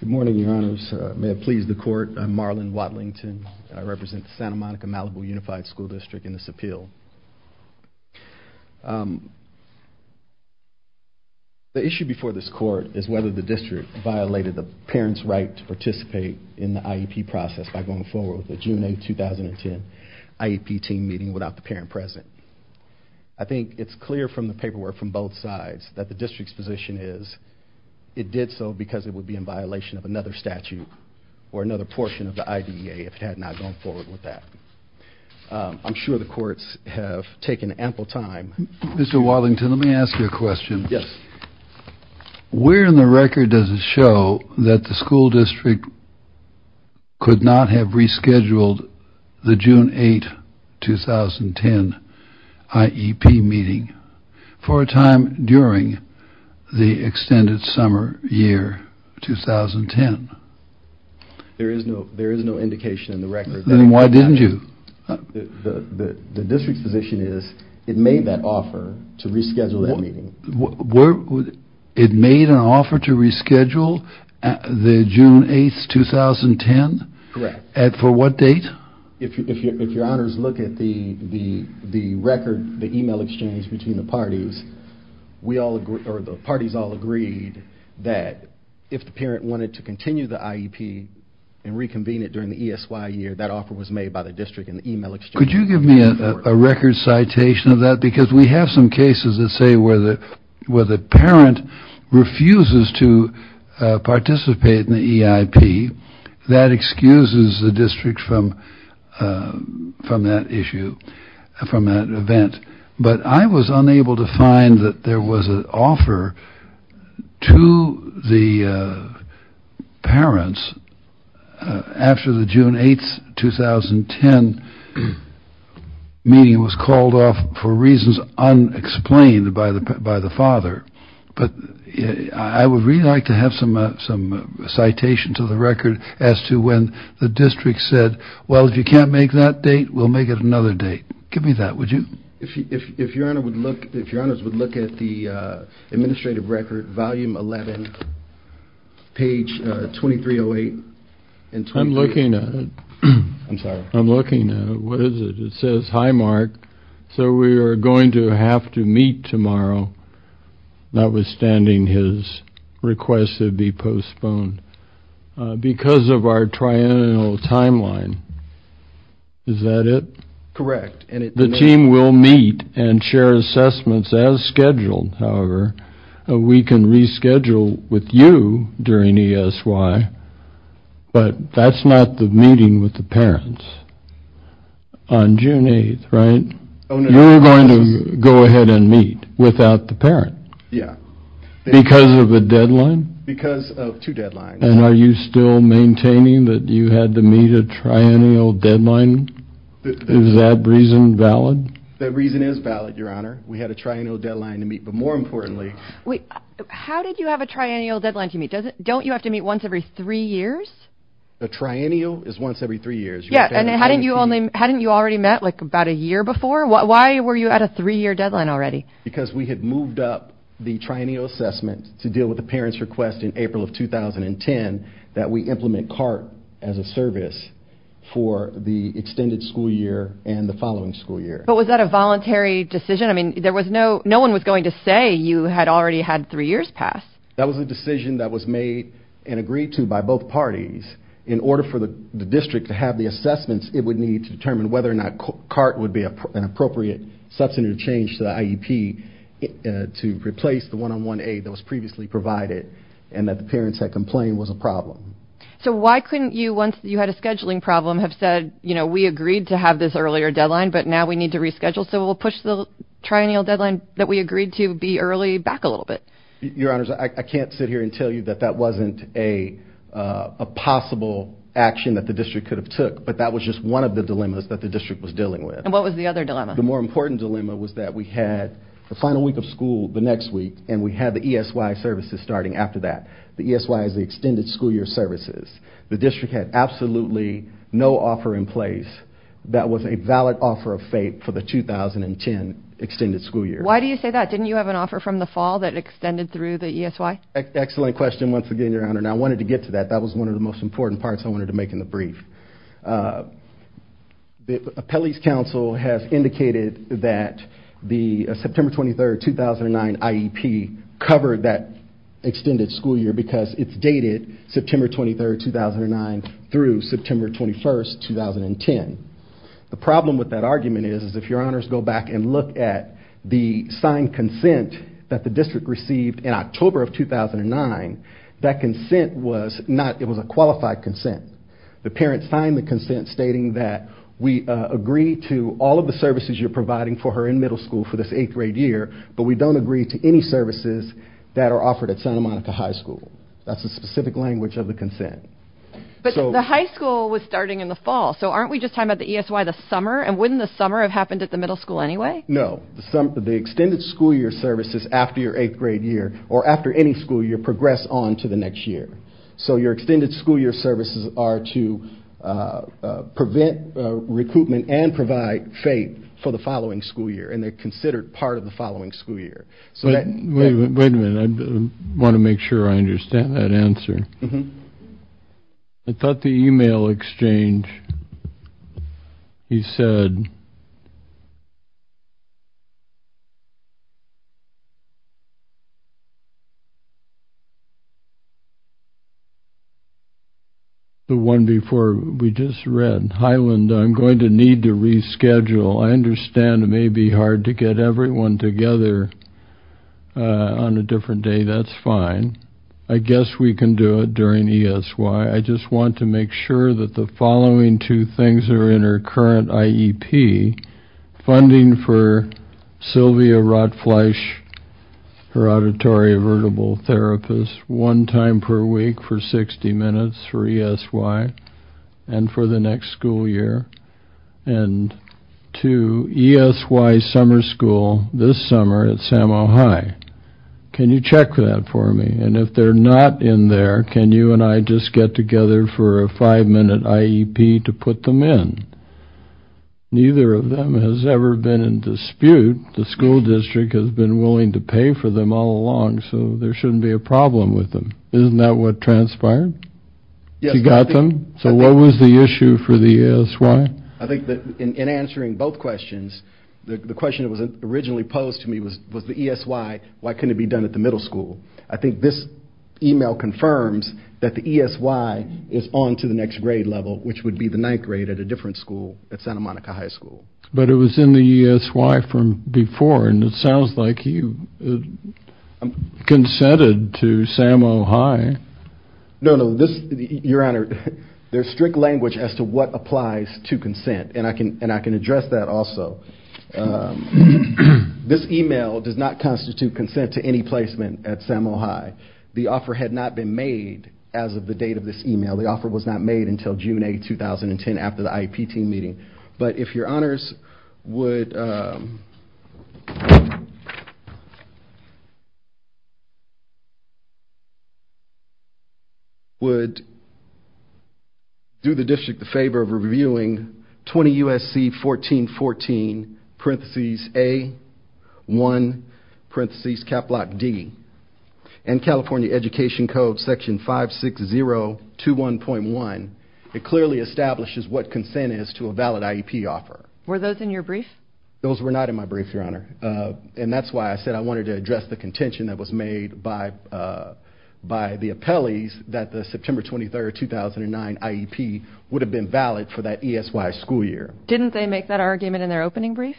Good morning, your honors. May it please the court, I'm Marlon Watlington. I represent the Santa Monica-Malibu Unified School District in this appeal. The issue before this court is whether the district violated the parent's right to participate in the IEP process by going forward with the June 8, 2010 IEP team meeting without the parent present. I think it's clear from the paperwork from both sides that the district's position is it did so because it would be in violation of another statute or another portion of the IDEA if it had not gone forward with that. I'm sure the courts have taken ample time. Mr. Wallington, let me ask you a question. Yes. Where in the record does it show that the school district could not have rescheduled the June 8, 2010 IEP meeting for a time during the extended summer year 2010? There is no there is no indication in the record. Then why didn't you? The district's position is it made that offer to reschedule that meeting. It made an offer to reschedule the June 8, 2010? Correct. At for what date? If your honors look at the record, the email exchange between the parties, we all agree or the parties all agreed that if the parent wanted to continue the IEP and reconvene it during the ESY year that offer was made by the district in the email exchange. Could you give me a record citation of that because we have some cases that say where the where the parent refuses to participate in the EIP that excuses the from that event. But I was unable to find that there was an offer to the parents after the June 8, 2010 meeting was called off for reasons unexplained by the by the father. But I would really like to have some some citation to the record as to when the district said well if you can't make that date we'll make it another date. Give me that, would you? If your honor would look, if your honors would look at the administrative record, volume 11, page 2308. I'm looking at it. I'm sorry. I'm looking at it. What is it? It says, hi Mark, so we are going to have to meet tomorrow notwithstanding his request to be postponed because of our annual timeline. Is that it? Correct. The team will meet and share assessments as scheduled, however, we can reschedule with you during ESY, but that's not the meeting with the parents on June 8th, right? You're going to go ahead and meet without the parent. Yeah. Because of a deadline? Because of two you had to meet a triennial deadline? Is that reason valid? That reason is valid, your honor. We had a triennial deadline to meet, but more importantly. Wait, how did you have a triennial deadline to meet? Don't you have to meet once every three years? The triennial is once every three years. Yeah, and hadn't you only, hadn't you already met like about a year before? Why were you at a three-year deadline already? Because we had moved up the triennial assessment to deal with the parents request in April of 2010 that we implement CART as a service for the extended school year and the following school year. But was that a voluntary decision? I mean there was no, no one was going to say you had already had three years passed. That was a decision that was made and agreed to by both parties in order for the district to have the assessments it would need to determine whether or not CART would be an appropriate substantive change to IEP to replace the one-on-one aid that was previously provided and that the parents had complained was a problem. So why couldn't you, once you had a scheduling problem, have said, you know, we agreed to have this earlier deadline but now we need to reschedule so we'll push the triennial deadline that we agreed to be early back a little bit? Your honors, I can't sit here and tell you that that wasn't a possible action that the district could have took, but that was just one of the dilemmas that the district was dealing with. And what was the other dilemma? The more important dilemma was that we had the final week of school the next week and we had the ESY services starting after that. The ESY is the extended school year services. The district had absolutely no offer in place that was a valid offer of fate for the 2010 extended school year. Why do you say that? Didn't you have an offer from the fall that extended through the ESY? Excellent question once again, your honor. Now I wanted to get to that. That was one of the most important parts I wanted to make in the brief. The district has indicated that the September 23, 2009 IEP covered that extended school year because it's dated September 23, 2009 through September 21, 2010. The problem with that argument is if your honors go back and look at the signed consent that the district received in October of 2009, that consent was not, it was a qualified consent. The parents signed the consent stating that we agree to all of the services you're providing for her in middle school for this eighth-grade year but we don't agree to any services that are offered at Santa Monica High School. That's a specific language of the consent. But the high school was starting in the fall so aren't we just talking about the ESY the summer and wouldn't the summer have happened at the middle school anyway? No, the extended school year services after your eighth grade year or after any school year progress on to the next year. So your extended school year services are to prevent recruitment and provide faith for the following school year and they're considered part of the following school year. Wait a minute, I want to make sure I understand that answer. I thought the email exchange you said the one before we just read. Highland, I'm going to need to reschedule. I understand it may be hard to get everyone together on a different day. That's fine. I guess we can do it during ESY. I just want to make sure that the following two things are in her current IEP. Funding for Sylvia Rotfleisch, her ESY, and for the next school year. And two, ESY summer school this summer at Samoa High. Can you check that for me? And if they're not in there, can you and I just get together for a five-minute IEP to put them in? Neither of them has ever been in dispute. The school district has been willing to pay for them all along so there shouldn't be a problem with them. Isn't that what transpired? Yes. You got them? So what was the issue for the ESY? I think that in answering both questions, the question that was originally posed to me was the ESY. Why couldn't it be done at the middle school? I think this email confirms that the ESY is on to the next grade level which would be the ninth grade at a different school at Santa Monica High School. But it was in the ESY from before and it consented to Samoa High. No, no, this, your honor, there's strict language as to what applies to consent and I can and I can address that also. This email does not constitute consent to any placement at Samoa High. The offer had not been made as of the date of this email. The offer was not made until June 8, 2010 after the IEP team meeting. But if your honors would would do the district the favor of reviewing 20 USC 1414 parentheses A1 parentheses cap block D and California Education Code section 56021.1. It clearly establishes what consent is to a valid IEP offer. Were those in your brief? Those were not in my brief, your honor, and that's why I said I wanted to address the contention that was made by by the appellees that the September 23rd 2009 IEP would have been valid for that ESY school year. Didn't they make that argument in their opening brief?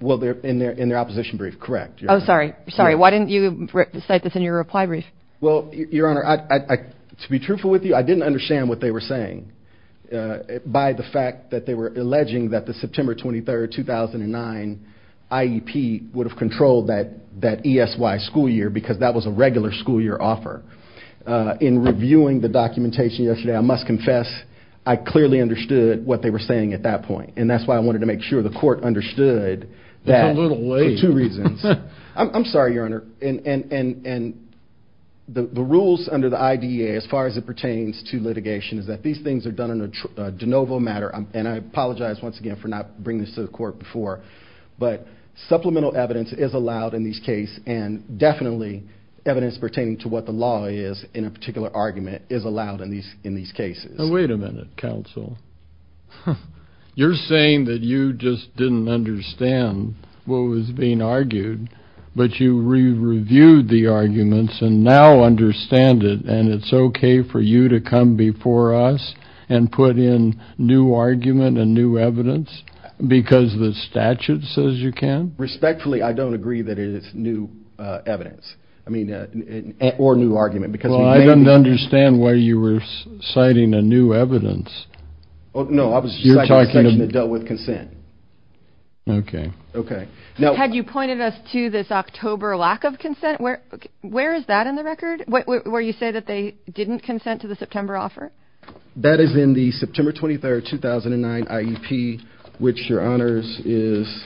Well, they're in their in their opposition brief, correct. Oh, sorry, sorry, why didn't you cite this in your reply brief? Well, your honor, to be truthful with you, I didn't understand what they were saying. By the fact that they were alleging that the September 23rd 2009 IEP would have controlled that that ESY school year because that was a regular school year offer. In reviewing the documentation yesterday, I must confess, I clearly understood what they were saying at that point, and that's why I wanted to make sure the court understood that for two reasons. I'm sorry, your honor, and the rules under the IDEA as far as it pertains to litigation is that these things are done in a de novo matter, and I apologize once again for not bringing this to the court before, but supplemental evidence is allowed in these case, and definitely evidence pertaining to what the law is in a particular argument is allowed in these in these cases. Wait a minute, counsel. You're saying that you just didn't understand what was being argued, but you re-reviewed the arguments and now understand it, and it's okay for you to come before us and put in new argument and new evidence because the statute says you can? Respectfully, I don't agree that it is new evidence, I mean, or new argument, because... Well, I don't understand why you were citing a new evidence. No, I was citing a section that dealt with consent. Okay. Okay. Had you pointed us to this October lack of consent? Where is that in the record? Where you say that they offer? That is in the September 23rd, 2009 IEP, which, Your Honors, is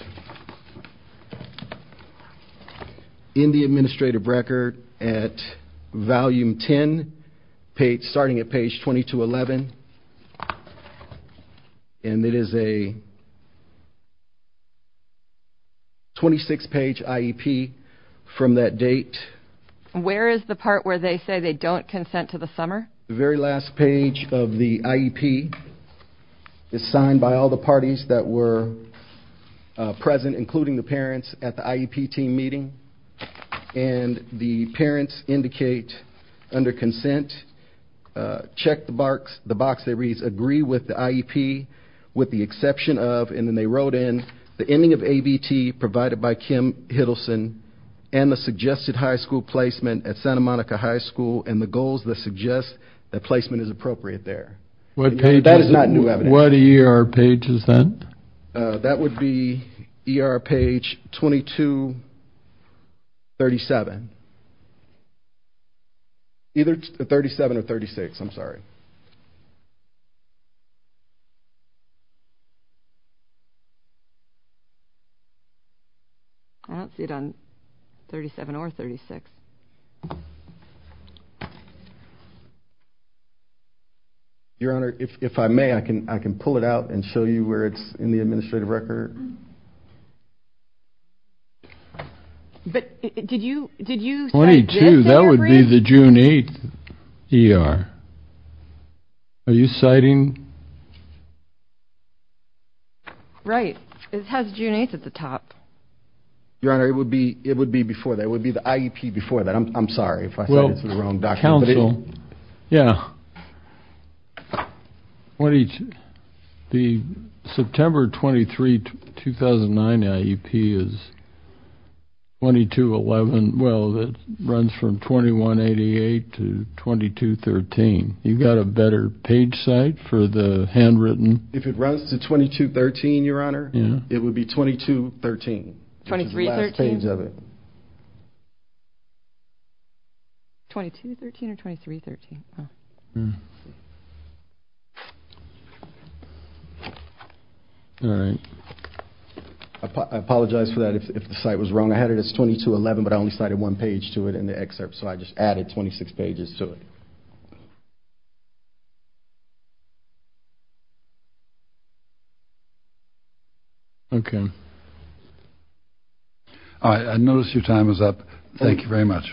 in the administrative record at volume 10, starting at page 20 to 11, and it is a 26-page IEP from that date. Where is the part where they say they don't consent to the summer? The very last page of the IEP is signed by all the parties that were present, including the parents, at the IEP team meeting, and the parents indicate under consent, check the box that reads, agree with the IEP with the exception of, and then they wrote in, the ending of ABT provided by Kim Hiddleston and the suggested high school placement at Santa Monica High School and the goals that suggest that placement is appropriate there. That is not new evidence. What ER page is that? That would be ER page 2237. Either 37 or 36, I'm not sure. I don't see it on 37 or 36. Your Honor, if I may, I can pull it out and show you where it's in the Are you citing? Right, it has June 8th at the top. Your Honor, it would be, it would be before that, it would be the IEP before that. I'm sorry if I said it's the wrong document. Council, yeah, the September 23, 2009 IEP is 2211, well, that runs from 2188 to 2213. You got a better page site for the handwritten? If it runs to 2213, Your Honor, it would be 2213. 2313? 2213 or 2313? I apologize for that, if the site was wrong. I had it as 2211, but I cited one page to it in the excerpt, so I just added 26 pages to it. Okay. All right, I notice your time is up. Thank you very much.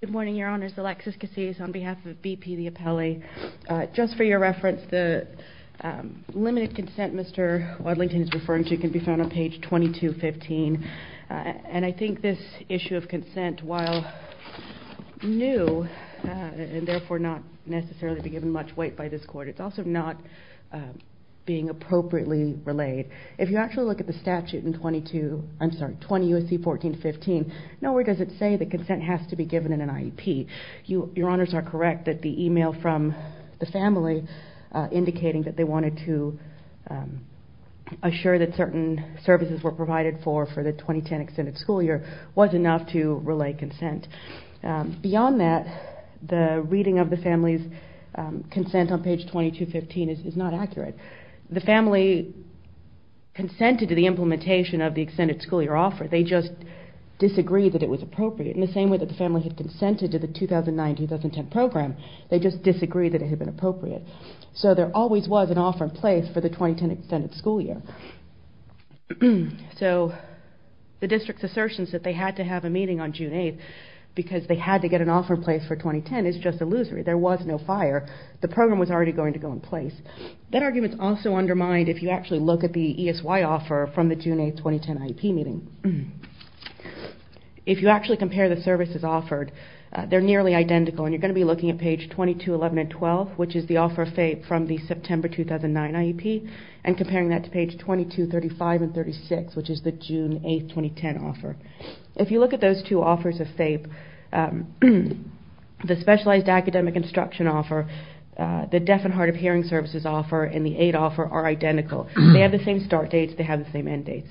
Good morning, Your Honors. Alexis Casillas on behalf of BP, the appellee. Just for your reference, the limited consent Mr. Wadlington is referring to can be found on page 2215, and I think this issue of consent, while new and therefore not necessarily be given much weight by this court, it's also not being appropriately relayed. If you actually look at the statute in 22, I'm sorry, 20 U.S.C. 1415, nowhere does it say that consent has to be given in an IEP. Your Honors are correct that the email from the family indicating that they wanted to assure that certain services were provided for the 2010 extended school year was enough to relay consent. Beyond that, the reading of the family's consent on page 2215 is not accurate. The family consented to the implementation of the extended school year offer, they just disagreed that it was appropriate. In the same way that the family had consented to the 2009-2010 program, they just disagreed that it had been appropriate. So there always was an offer in place for the 2010 extended school year. So the district's conclusions that they had to have a meeting on June 8th because they had to get an offer in place for 2010 is just illusory. There was no fire. The program was already going to go in place. That argument is also undermined if you actually look at the ESY offer from the June 8th, 2010 IEP meeting. If you actually compare the services offered, they're nearly identical and you're going to be looking at page 2211 and 12, which is the offer from the September 2009 IEP, and comparing that to page 2235 and 36, which is the June 8th, 2010 offer. If you look at those two offers of FAPE, the specialized academic instruction offer, the deaf and hard of hearing services offer, and the aid offer are identical. They have the same start dates, they have the same end dates.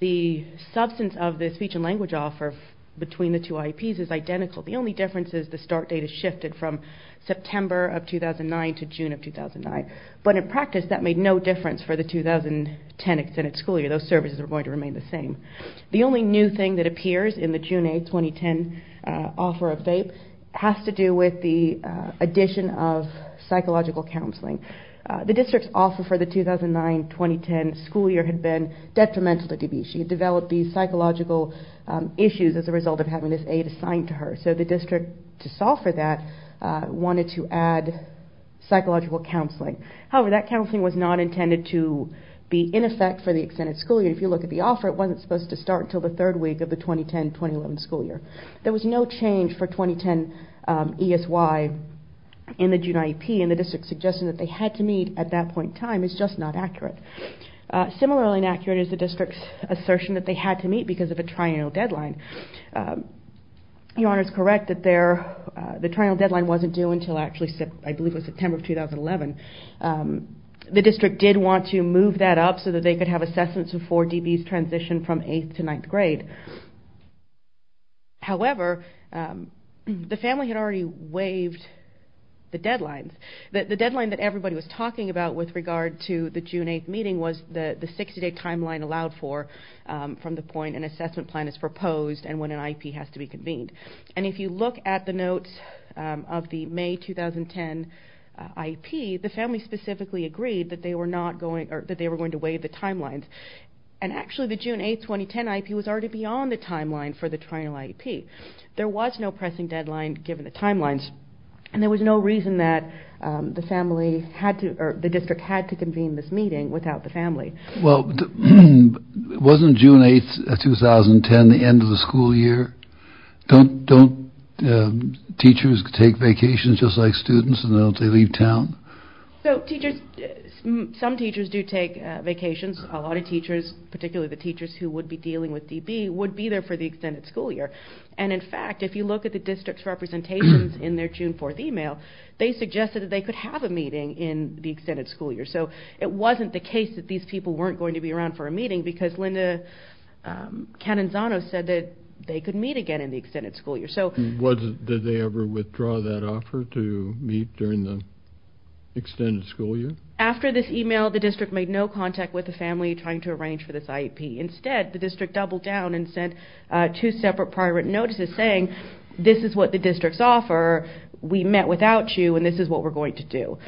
The substance of the speech and language offer between the two IEPs is identical. The only difference is the start date is shifted from September of 2009 to June of 2009. But in practice, that made no difference for the 2010 extended school year. Those services are going to remain the same. The only new thing that appears in the June 8th, 2010 offer of FAPE has to do with the addition of psychological counseling. The district's offer for the 2009-2010 school year had been detrimental to DeBeshe. She developed these psychological issues as a result of having this aid assigned to her. So the district, to solve for that, wanted to add psychological counseling. However, that counseling was not intended to be in effect for the extended school year. If you look at the offer, it wasn't supposed to start until the third week of the 2010-2011 school year. There was no change for 2010 ESY in the June IEP, and the district's suggestion that they had to meet at that point in time is just not accurate. Similarly inaccurate is the district's assertion that they had to meet because of a triennial deadline. Your district did want to move that up so that they could have assessments before DeBeshe's transition from 8th to 9th grade. However, the family had already waived the deadlines. The deadline that everybody was talking about with regard to the June 8th meeting was the 60-day timeline allowed for from the point an assessment plan is proposed and when an IEP has to be convened. And if you look at the notes of the May 2010 IEP, the family specifically agreed that they were going to waive the timelines. And actually the June 8th 2010 IEP was already beyond the timeline for the triennial IEP. There was no pressing deadline given the timelines, and there was no reason that the district had to convene this meeting without the family. Well, wasn't June 8th 2010 the end of the school year? Don't teachers take vacations just like students and don't they leave town? Some teachers do take vacations. A lot of teachers, particularly the teachers who would be dealing with DeBeshe's, would be there for the extended school year. And in fact, if you look at the district's representations in their June 4th email, they suggested that they could have a meeting in the extended school year. So it wasn't the case that these people weren't going to be around for a meeting because Linda Cananzano said that they could meet again in the extended school year. Did they ever withdraw that offer to meet during the extended school year? After this email, the district made no contact with the family trying to arrange for this IEP. Instead, the district doubled down and sent two separate prior written notices saying, this is what the district's offer, we met without you, and this is what we're going to do.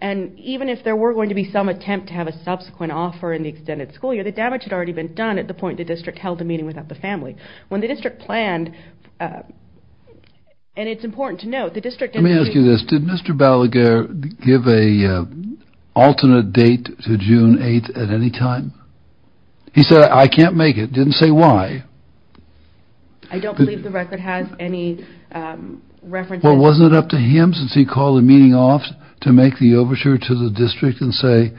And even if there were going to be some attempt to have a subsequent offer in the extended school year, the damage had already been done at the point the district held a meeting with the family. When the district planned, and it's important to note, the district... Let me ask you this, did Mr. Balaguer give an alternate date to June 8th at any time? He said, I can't make it, didn't say why. I don't believe the record has any references... Well, wasn't it up to him, since he called the meeting off, to make the overture to the district and say,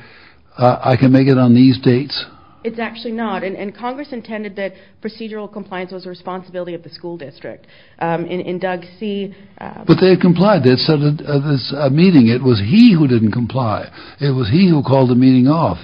I can make it on these dates? It's actually not, and Congress intended that procedural compliance was a responsibility of the school district. In Doug C... But they had complied, they had set a meeting, it was he who didn't comply, it was he who called the meeting off.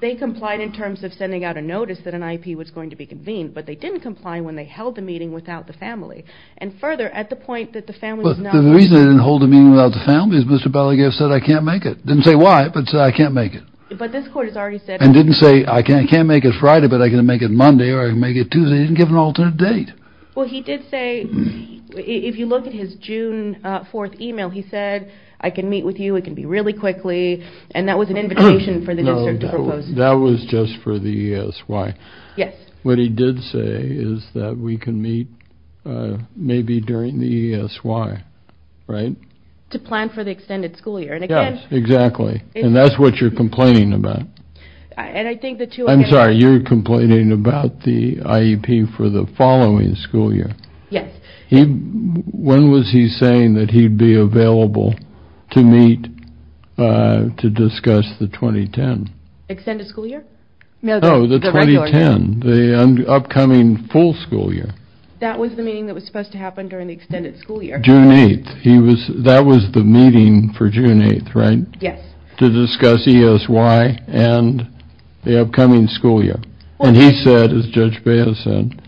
They complied in terms of sending out a notice that an IEP was going to be convened, but they didn't comply when they held the meeting without the family. And further, at the point that the family was not... But the reason they didn't hold the meeting without the family is Mr. Balaguer said, I can't make it. Didn't say why, but said, I can't make it. But this court has already said... And didn't say, I can't make it Friday, but I can make it Monday, or I can make it Tuesday. He didn't give an alternate date. Well, he did say, if you look at his June 4th email, he said, I can meet with you, it can be really quickly. And that was an invitation for the district to propose... That was just for the ESY. Yes. What he did say is that we can meet maybe during the ESY, right? To plan for the extended school year. Yes, exactly. And that's what you're complaining about. And I think the two... I'm sorry, you're complaining about the IEP for the following school year. Yes. When was he saying that he'd be available to meet to discuss the 2010? Extended school year? No, the 2010, the upcoming full school year. That was the meeting that was supposed to happen during the extended school year. June 8th. That was the meeting for June 8th, right? Yes. To discuss ESY and the upcoming school year. And he said, as Judge Beha said,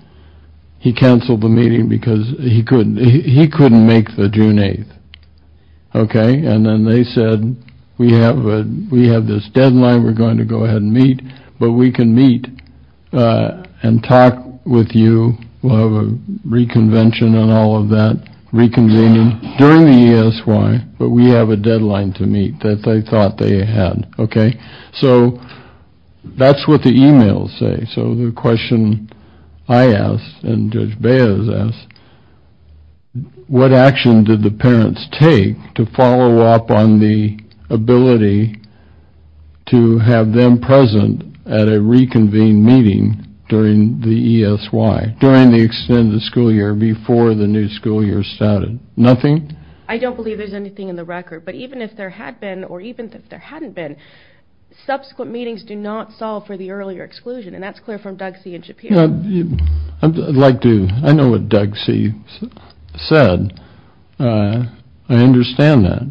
he canceled the meeting because he couldn't make the June 8th. Okay? And then they said, we have this deadline we're going to go ahead and meet, but we can meet and talk with you, we'll have a reconvention and all of that, reconvening during the ESY, but we have a deadline to meet that they thought they had. Okay? So that's what the emails say. So the question I ask, and Judge Beha has asked, what action did the parents take to follow up on the ability to have them present at a reconvened meeting during the ESY, during the extended school year before the new school year started? Nothing? I don't believe there's anything in the record. But even if there had been, or even if there hadn't been, subsequent meetings do not solve for the earlier exclusion. And that's clear from Doug C. and Shapiro. I'd like to, I know what Doug C. said. I understand that.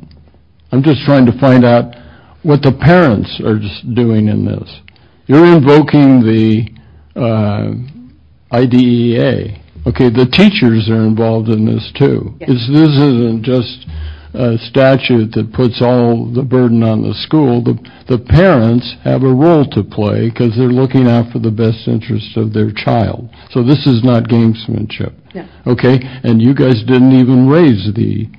I'm just trying to find out what the parents are doing in this. You're invoking the IDEA. Okay? The teachers are involved in this too. This isn't just a statute that puts all the burden on the school. The parents have a role to play because they're looking out for the best interest of their child. So this is not gamesmanship. Okay? And you guys didn't even raise the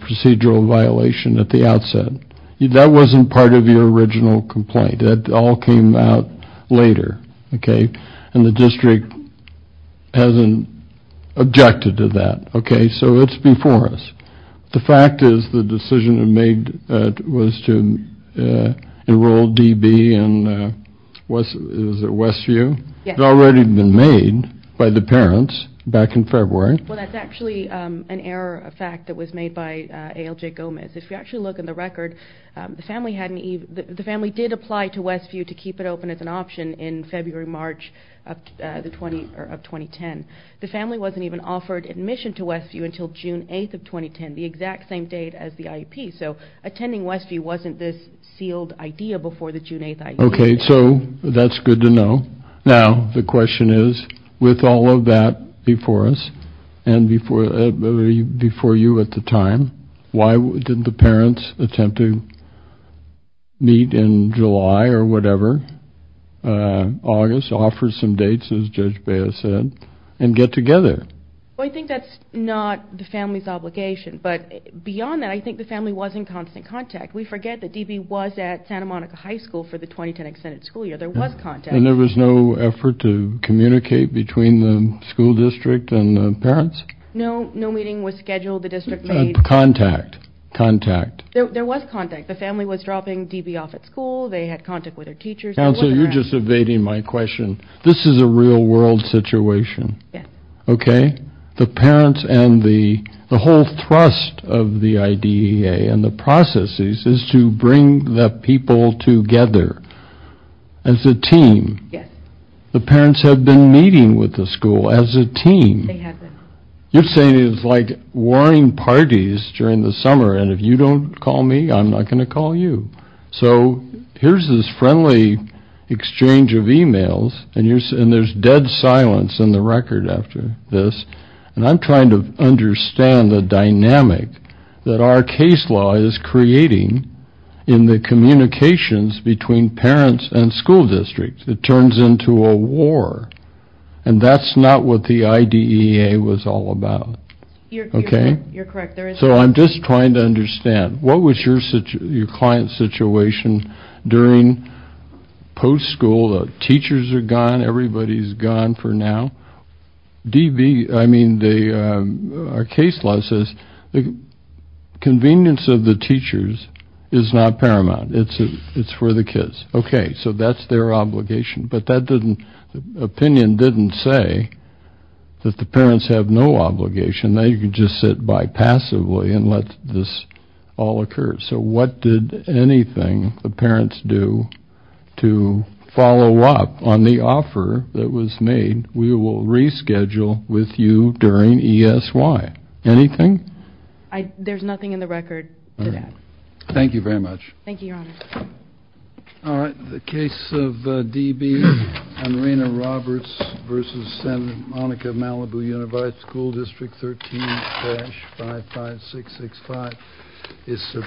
procedural violation at the outset. That wasn't part of your original complaint. That all came out later. Okay? And the district hasn't objected to that. Okay? So it's before us. The fact is the decision made was to enroll D.B. in, was it Westview? Yes. It had already been made by the parents back in February. Well, that's actually an error of fact that was made by A.L.J. Gomez. If you actually look in the record, the family did apply to Westview to keep it open as an of 2010. The family wasn't even offered admission to Westview until June 8th of 2010, the exact same date as the IEP. So attending Westview wasn't this sealed IDEA before the June 8th IEP. Okay. So that's good to know. Now, the question is, with all of that before us and before you at the time, why didn't the parents attempt to meet in July or whatever, August, offer some dates as Judge Baya said, and get together? Well, I think that's not the family's obligation. But beyond that, I think the family was in constant contact. We forget that D.B. was at Santa Monica High School for the 2010 extended school year. There was contact. And there was no effort to communicate between the school district and the parents? No. No meeting was scheduled. The district made... Contact. Contact. There was contact. The family was dropping D.B. off at school. They had contact with their teachers. Counsel, you're just evading my question. This is a real-world situation. Yes. Okay? The parents and the whole thrust of the IDEA and the processes is to bring the people together as a team. Yes. The parents have been meeting with the school as a team. They have been. You're saying it's like warning parties during the summer, and if you don't call me, I'm not going to call you. So here's this friendly exchange of emails, and there's dead silence in the record after this. And I'm trying to understand the dynamic that our case law is creating in the communications between parents and school districts. It turns into a war. And that's not what the IDEA was all about. Okay? You're correct. So I'm just trying to understand. What was your client's situation during post-school? Teachers are gone. Everybody's gone for now. D.B. I mean, our case law says the convenience of the teachers is not paramount. It's for the kids. Okay. So that's their obligation. But the opinion didn't say that the parents have no obligation. They can just sit by passively and let this all occur. So what did anything the parents do to follow up on the offer that was made, we will reschedule with you during ESY? Anything? There's nothing in the record to that. Thank you very much. Thank you, Your Honor. All right. The case of D.B. and Rena Roberts v. Monica Malibu Unified School District 13-55665 is submitted.